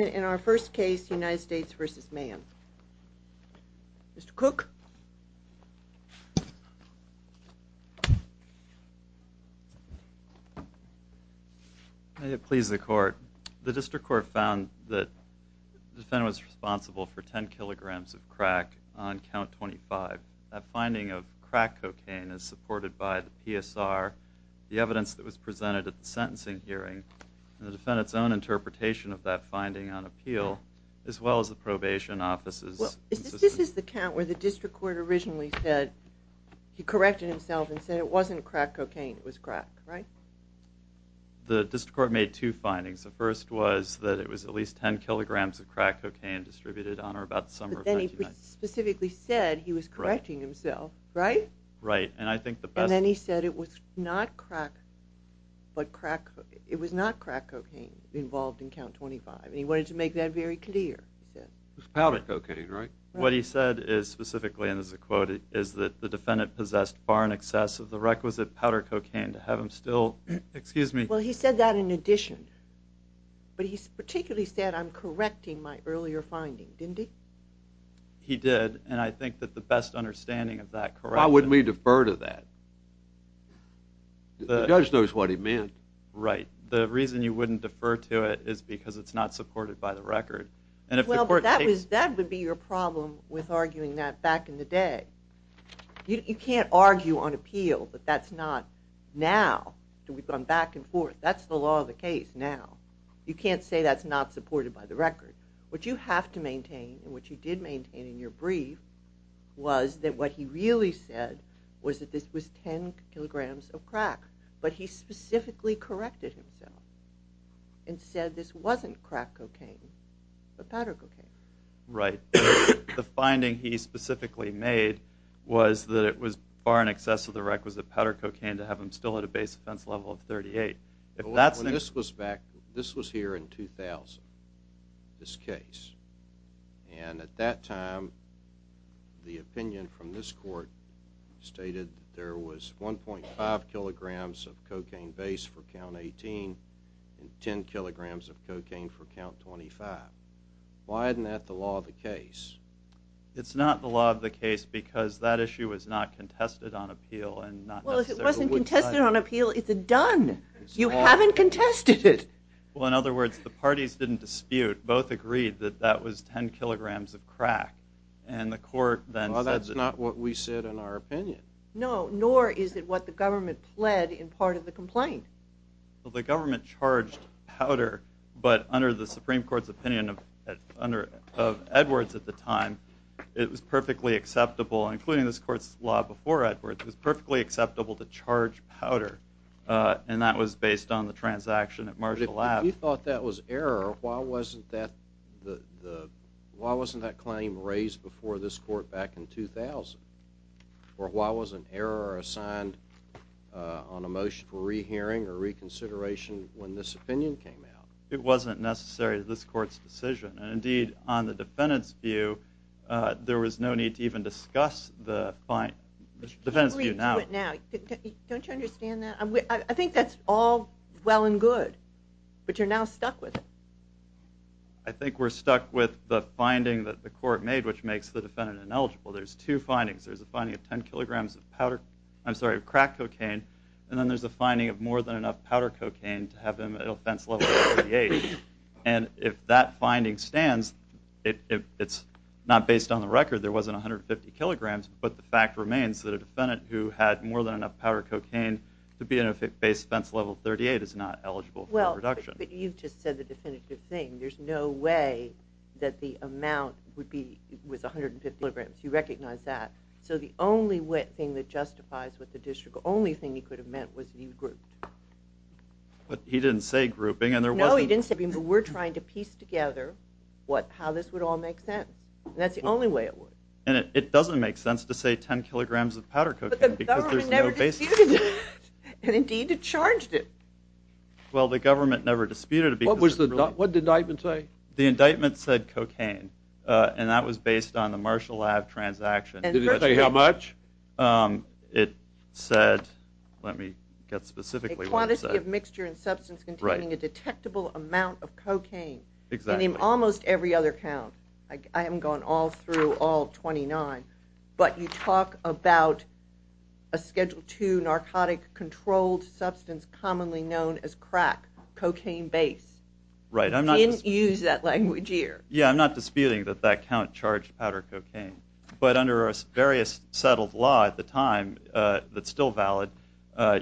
In our first case United States v. Mann. Mr. Cooke. May it please the court. The district court found that the defendant was responsible for 10 kilograms of crack on count 25. That finding of crack cocaine is supported by the PSR, the evidence that was presented at the sentencing hearing, and the defendant's own interpretation of that finding on appeal, as well as the probation office's. This is the count where the district court originally said, he corrected himself and said it wasn't crack cocaine, it was crack, right? The district court made two findings. The first was that it was at least 10 kilograms of crack cocaine distributed on her about the summer of 1999. But then he specifically said he was correcting himself, right? And then he said it was not crack cocaine involved in count 25, and he wanted to make that very clear, he said. It was powder cocaine, right? What he said is specifically, and this is a quote, is that the defendant possessed far in excess of the requisite powder cocaine to have him still, excuse me. Well, he said that in addition, but he particularly said I'm correcting my earlier finding, didn't he? He did, and I think that the best understanding of that correction. Why wouldn't we defer to that? The judge knows what he meant. Right. The reason you wouldn't defer to it is because it's not supported by the record. Well, that would be your problem with arguing that back in the day. You can't argue on appeal that that's not now, that we've gone back and forth. That's the law of the case now. You can't say that's not supported by the record. What you have to maintain, and what you did maintain in your brief, was that what he really said was that this was 10 kilograms of crack. But he specifically corrected himself and said this wasn't crack cocaine, but powder cocaine. Right. The finding he specifically made was that it was far in excess of the requisite powder cocaine to have him still at a base offense level of 38. This was here in 2000, this case. And at that time, the opinion from this court stated there was 1.5 kilograms of cocaine base for count 18 and 10 kilograms of cocaine for count 25. Why isn't that the law of the case? It's not the law of the case because that issue was not contested on appeal. Well, if it wasn't contested on appeal, it's a done. You haven't contested it. Well, in other words, the parties didn't dispute. Both agreed that that was 10 kilograms of crack. Well, that's not what we said in our opinion. No, nor is it what the government pled in part of the complaint. Well, the government charged powder, but under the Supreme Court's opinion of Edwards at the time, it was perfectly acceptable, including this court's law before Edwards, it was perfectly acceptable to charge powder. And that was based on the transaction at Marginal Ave. If you thought that was error, why wasn't that claim raised before this court back in 2000? Or why was an error assigned on a motion for rehearing or reconsideration when this opinion came out? It wasn't necessary to this court's decision. And indeed, on the defendant's view, there was no need to even discuss the defendant's view now. Don't you understand that? I think that's all well and good, but you're now stuck with it. I think we're stuck with the finding that the court made, which makes the defendant ineligible. There's two findings. There's a finding of 10 kilograms of crack cocaine, and then there's a finding of more than enough powder cocaine to have him at offense level 38. And if that finding stands, it's not based on the record there wasn't 150 kilograms, but the fact remains that a defendant who had more than enough powder cocaine to be at offense level 38 is not eligible for a reduction. But you've just said the definitive thing. There's no way that the amount was 150 kilograms. You recognize that. So the only thing that justifies what the district, the only thing he could have meant was he grouped. But he didn't say grouping. No, he didn't say grouping, but we're trying to piece together how this would all make sense. And that's the only way it would. And it doesn't make sense to say 10 kilograms of powder cocaine because there's no basis. But the government never disputed it, and indeed it charged it. Well, the government never disputed it. What did the indictment say? The indictment said cocaine, and that was based on the Marshall Ave transaction. Did it say how much? It said, let me get specifically what it said. A quantity of mixture and substance containing a detectable amount of cocaine. Exactly. And in almost every other count, I haven't gone all through all 29, but you talk about a Schedule II narcotic-controlled substance commonly known as crack, cocaine base. You didn't use that language here. Yeah, I'm not disputing that that count charged powder cocaine. But under a various settled law at the time that's still valid,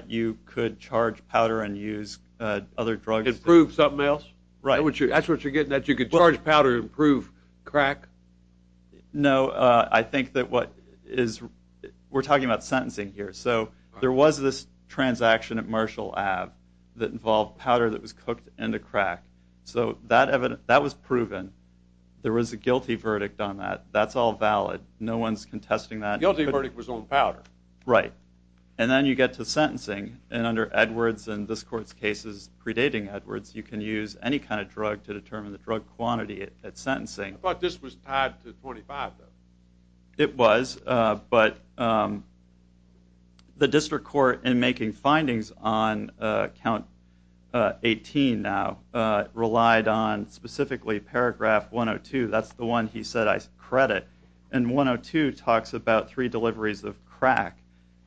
you could charge powder and use other drugs. Improve something else? Right. That's what you're getting at? You could charge powder to improve crack? No, I think that what is we're talking about sentencing here. So there was this transaction at Marshall Ave that involved powder that was cooked into crack. So that was proven. There was a guilty verdict on that. That's all valid. No one's contesting that. The guilty verdict was on powder. Right. And then you get to sentencing. And under Edwards and this court's cases predating Edwards, you can use any kind of drug to determine the drug quantity at sentencing. I thought this was tied to 25, though. It was. But the district court in making findings on Count 18 now relied on specifically Paragraph 102. That's the one he said I credit. And 102 talks about three deliveries of crack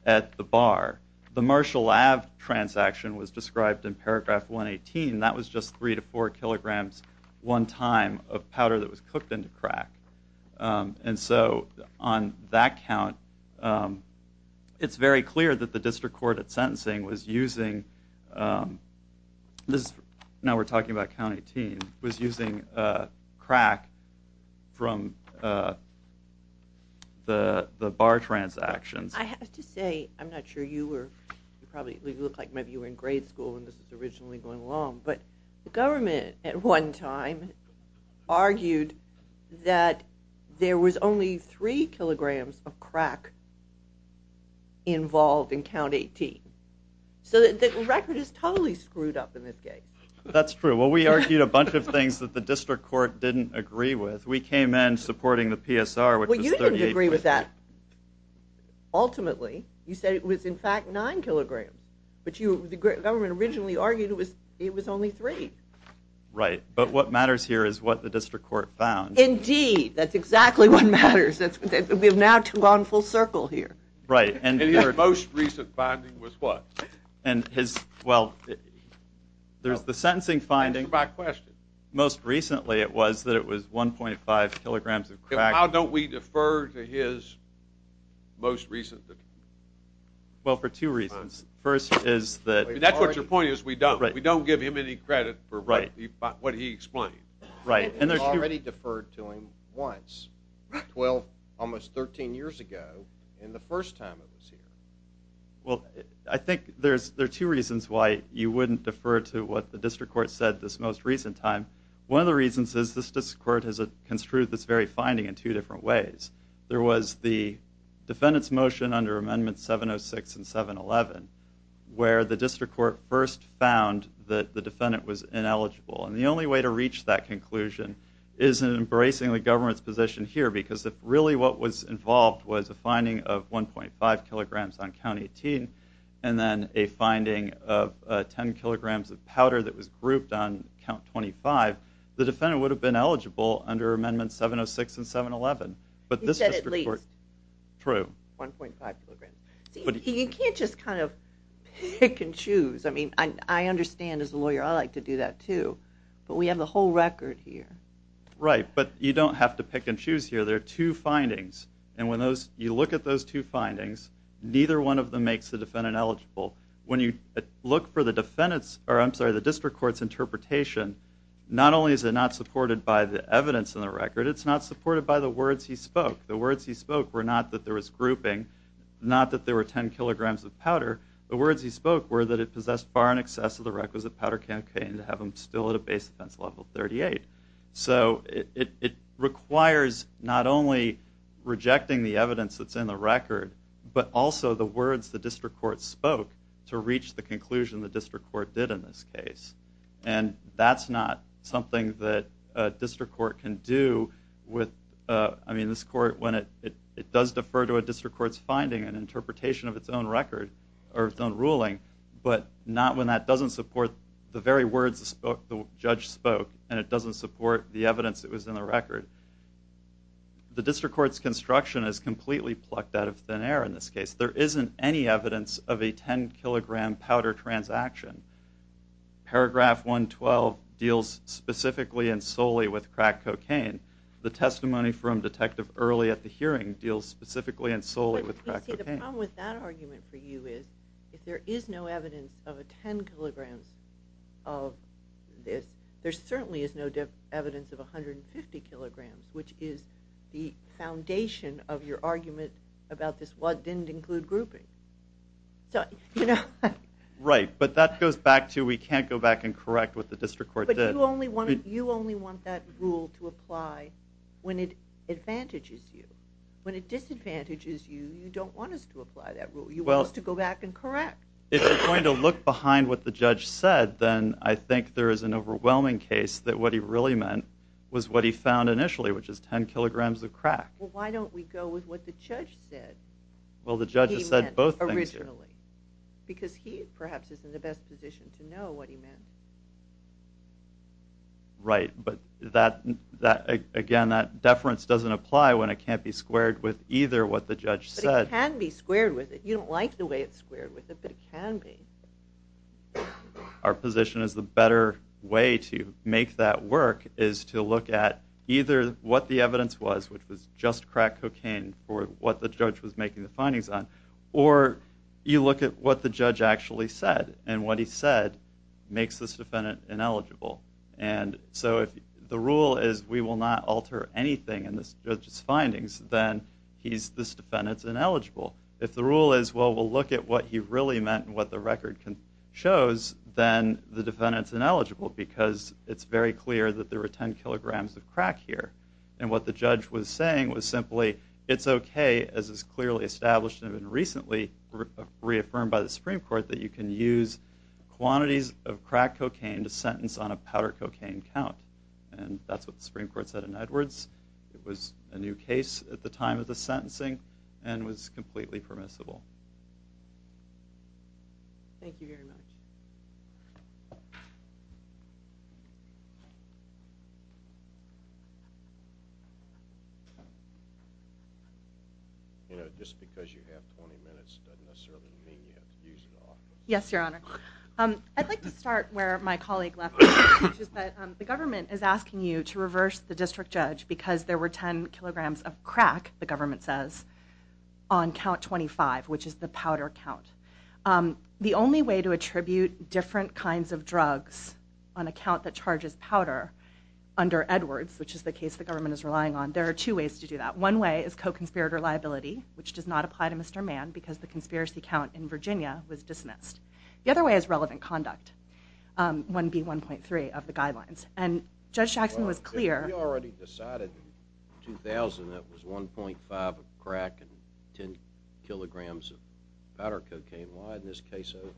at the bar. The Marshall Ave transaction was described in Paragraph 118. That was just three to four kilograms one time of powder that was cooked into crack. And so on that count, it's very clear that the district court at sentencing was using, now we're talking about Count 18, was using crack from the bar transactions. I have to say, I'm not sure you were, it probably looked like maybe you were in grade school when this was originally going along, but the government at one time argued that there was only three kilograms of crack involved in Count 18. So the record is totally screwed up in this case. That's true. Well, we argued a bunch of things that the district court didn't agree with. We came in supporting the PSR, which was 38. Well, you didn't agree with that. Ultimately, you said it was, in fact, nine kilograms. But the government originally argued it was only three. Right. But what matters here is what the district court found. Indeed. That's exactly what matters. We are now two on full circle here. Right. And your most recent finding was what? And his, well, there's the sentencing finding. Answer my question. Most recently, it was that it was 1.5 kilograms of crack. How don't we defer to his most recent? Well, for two reasons. First is that- That's what your point is. We don't give him any credit for what he explained. Right. And you already deferred to him once, almost 13 years ago, in the first time it was here. Well, I think there are two reasons why you wouldn't defer to what the district court said this most recent time. One of the reasons is this district court has construed this very finding in two different ways. There was the defendant's motion under amendments 706 and 711 where the district court first found that the defendant was ineligible. And the only way to reach that conclusion is in embracing the government's position here because if really what was involved was a finding of 1.5 kilograms on count 18 and then a finding of 10 kilograms of powder that was grouped on count 25, the defendant would have been eligible under amendments 706 and 711. But this district court- He said at least. True. 1.5 kilograms. You can't just kind of pick and choose. I mean, I understand as a lawyer I like to do that too. But we have the whole record here. Right. But you don't have to pick and choose here. There are two findings. And when you look at those two findings, neither one of them makes the defendant eligible. When you look for the district court's interpretation, not only is it not supported by the evidence in the record, it's not supported by the words he spoke. The words he spoke were not that there was grouping, not that there were 10 kilograms of powder. The words he spoke were that it possessed far in excess of the requisite powder campaign to have him still at a base offense level 38. So it requires not only rejecting the evidence that's in the record but also the words the district court spoke to reach the conclusion the district court did in this case. And that's not something that a district court can do with, I mean, this court when it does defer to a district court's finding and interpretation of its own record or its own ruling, but not when that doesn't support the very words the judge spoke and it doesn't support the evidence that was in the record. The district court's construction is completely plucked out of thin air in this case. There isn't any evidence of a 10-kilogram powder transaction. Paragraph 112 deals specifically and solely with crack cocaine. The testimony from Detective Early at the hearing deals specifically and solely with crack cocaine. But, you see, the problem with that argument for you is if there is no evidence of a 10 kilograms of this, there certainly is no evidence of 150 kilograms, which is the foundation of your argument about this what didn't include grouping. Right, but that goes back to we can't go back and correct what the district court did. But you only want that rule to apply when it advantages you. When it disadvantages you, you don't want us to apply that rule. You want us to go back and correct. If you're going to look behind what the judge said, then I think there is an overwhelming case that what he really meant was what he found initially, which is 10 kilograms of crack. Well, why don't we go with what the judge said? Well, the judge has said both things. Because he perhaps is in the best position to know what he meant. Right, but again, that deference doesn't apply when it can't be squared with either what the judge said. But it can be squared with it. You don't like the way it's squared with it, but it can be. Our position is the better way to make that work is to look at either what the evidence was, which was just crack cocaine for what the judge was making the findings on, or you look at what the judge actually said. And what he said makes this defendant ineligible. And so if the rule is we will not alter anything in this judge's findings, then this defendant's ineligible. If the rule is, well, we'll look at what he really meant and what the record shows, then the defendant's ineligible. Because it's very clear that there were 10 kilograms of crack here. And what the judge was saying was simply it's okay, as is clearly established and recently reaffirmed by the Supreme Court, that you can use quantities of crack cocaine to sentence on a powder cocaine count. And that's what the Supreme Court said in Edwards. It was a new case at the time of the sentencing and was completely permissible. Thank you very much. You know, just because you have 20 minutes doesn't necessarily mean you have to use it all. Yes, Your Honor. I'd like to start where my colleague left off, which is that the government is asking you to reverse the district judge because there were 10 kilograms of crack, the government says, on count 25, which is the powder count. The only way to attribute different kinds of drugs on a count that charges powder under Edwards, which is the case the government is relying on, there are two ways to do that. One way is co-conspirator liability, which does not apply to Mr. Mann because the conspiracy count in Virginia was dismissed. The other way is relevant conduct, 1B1.3 of the guidelines. And Judge Jackson was clear... We already decided in 2000 it was 1.5 of crack and 10 kilograms of powder cocaine. Why isn't this case over?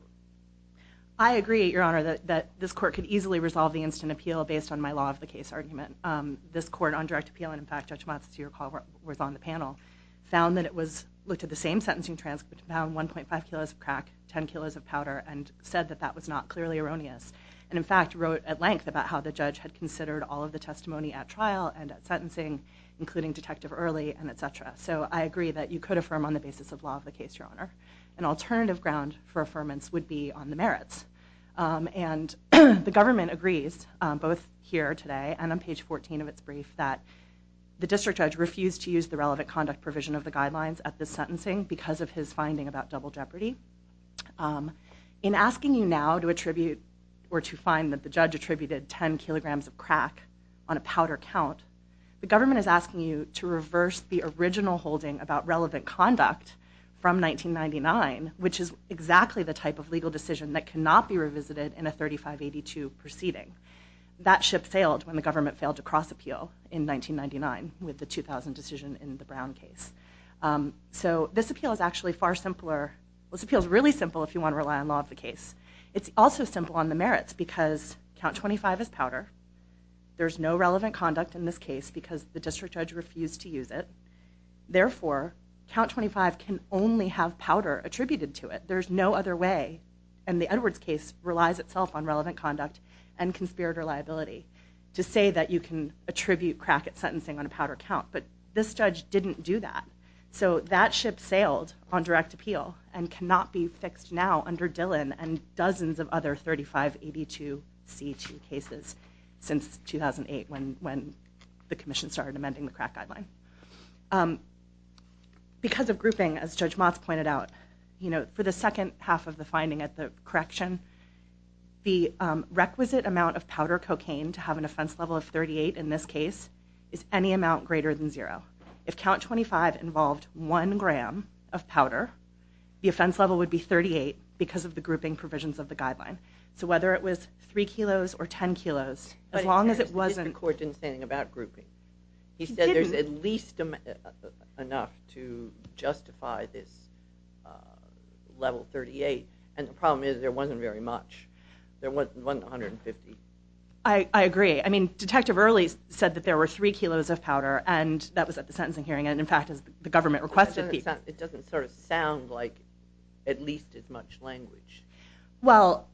I agree, Your Honor, that this court could easily resolve the instant appeal based on my law-of-the-case argument. This court on direct appeal, and in fact Judge Motz, as you recall, was on the panel, found that it was... looked at the same sentencing transcript, found 1.5 kilos of crack, 10 kilos of powder, and said that that was not clearly erroneous, and in fact wrote at length about how the judge had considered all of the testimony at trial and at sentencing, including Detective Early, and et cetera. So I agree that you could affirm on the basis of law of the case, Your Honor. An alternative ground for affirmance would be on the merits. And the government agrees, both here today and on page 14 of its brief, that the district judge refused to use the relevant conduct provision of the guidelines at this sentencing because of his finding about double jeopardy. In asking you now to attribute or to find that the judge attributed 10 kilograms of crack on a powder count, the government is asking you to reverse the original holding about relevant conduct from 1999, which is exactly the type of legal decision that cannot be revisited in a 3582 proceeding. That ship sailed when the government failed to cross-appeal in 1999 with the 2000 decision in the Brown case. So this appeal is actually far simpler. This appeal is really simple if you want to rely on law of the case. It's also simple on the merits because count 25 is powder. There's no relevant conduct in this case because the district judge refused to use it. Therefore, count 25 can only have powder attributed to it. There's no other way. And the Edwards case relies itself on relevant conduct and conspirator liability to say that you can attribute crack at sentencing on a powder count. But this judge didn't do that. So that ship sailed on direct appeal and cannot be fixed now under Dillon and dozens of other 3582C2 cases since 2008 when the commission started amending the crack guideline. Because of grouping, as Judge Motz pointed out, for the second half of the finding at the correction, the requisite amount of powder cocaine to have an offense level of 38 in this case is any amount greater than zero. If count 25 involved one gram of powder, the offense level would be 38 because of the grouping provisions of the guideline. So whether it was 3 kilos or 10 kilos, as long as it wasn't... But the court didn't say anything about grouping. He said there's at least enough to justify this level 38. And the problem is there wasn't very much. There wasn't 150. I agree. I mean, Detective Early said that there were 3 kilos of powder, and that was at the sentencing hearing, and in fact the government requested people. It doesn't sort of sound like at least as much language. Well,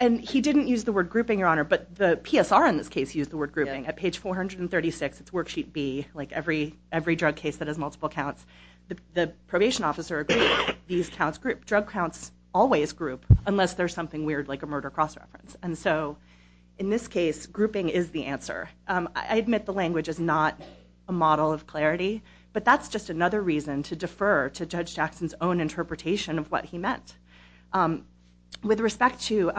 and he didn't use the word grouping, Your Honor, but the PSR in this case used the word grouping. At page 436, it's worksheet B, like every drug case that has multiple counts. The probation officer agreed that these counts group. Drug counts always group unless there's something weird like a murder cross-reference. And so in this case, grouping is the answer. I admit the language is not a model of clarity, but that's just another reason to defer to Judge Jackson's own interpretation of what he meant. With respect to,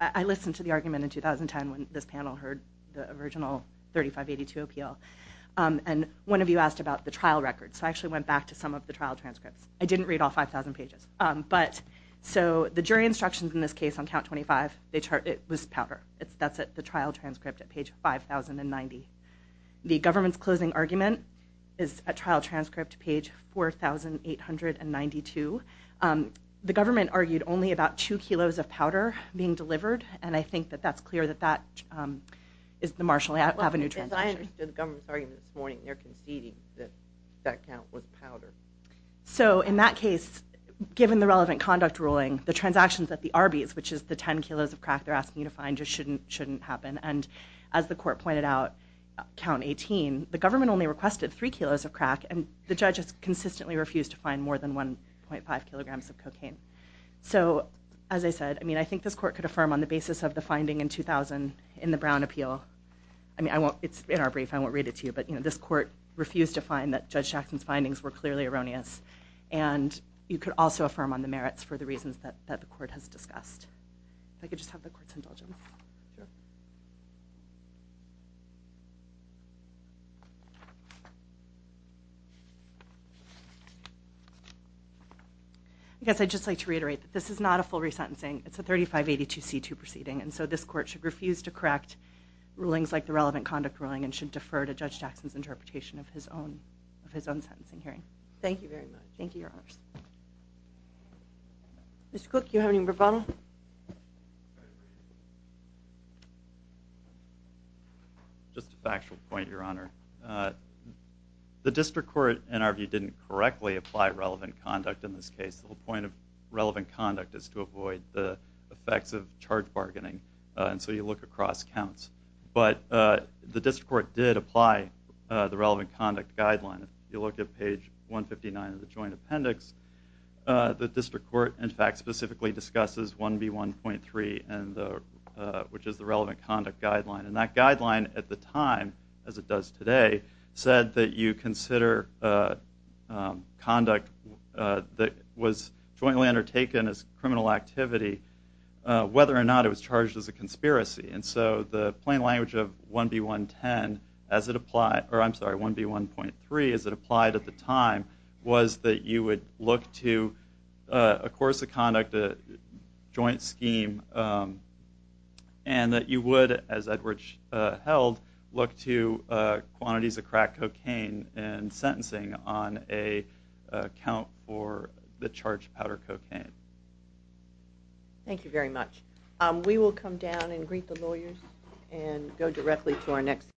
I listened to the argument in 2010 when this panel heard the original 3582 appeal, and one of you asked about the trial record. So I actually went back to some of the trial transcripts. I didn't read all 5,000 pages. So the jury instructions in this case on count 25, it was powder. That's at the trial transcript at page 5,090. The government's closing argument is at trial transcript, page 4,892. The government argued only about 2 kilos of powder being delivered, and I think that that's clear that that is the Marshall Avenue transaction. As I understood the government's argument this morning, they're conceding that that count was powder. So in that case, given the relevant conduct ruling, the transactions at the Arby's, which is the 10 kilos of crack they're asking you to find, just shouldn't happen. And as the court pointed out, count 18, the government only requested 3 kilos of crack, and the judge has consistently refused to find more than 1.5 kilograms of cocaine. So as I said, I think this court could affirm on the basis of the finding in 2000 in the Brown appeal. I mean, it's in our brief. I won't read it to you. But this court refused to find that Judge Jackson's findings were clearly erroneous, and you could also affirm on the merits for the reasons that the court has discussed. If I could just have the court's indulgence. Sure. I guess I'd just like to reiterate that this is not a full resentencing. It's a 3582C2 proceeding, and so this court should refuse to correct rulings like the relevant conduct ruling and should defer to Judge Jackson's interpretation of his own sentencing hearing. Thank you very much. Thank you, Your Honors. Mr. Cook, do you have any rebuttal? Just a factual point, Your Honor. The district court, in our view, didn't correctly apply relevant conduct in this case. The point of relevant conduct is to avoid the effects of charge bargaining, and so you look across counts. But the district court did apply the relevant conduct guideline. If you look at page 159 of the joint appendix, the district court, in fact, specifically discusses 1B1.3, which is the relevant conduct guideline. And that guideline at the time, as it does today, said that you consider conduct that was jointly undertaken as criminal activity, whether or not it was charged as a conspiracy. And so the plain language of 1B1.3, as it applied at the time, was that you would look to a course of conduct, a joint scheme, and that you would, as Edward held, look to quantities of crack cocaine in sentencing on a count for the charged powder cocaine. Thank you very much. We will come down and greet the lawyers and go directly to our next speaker.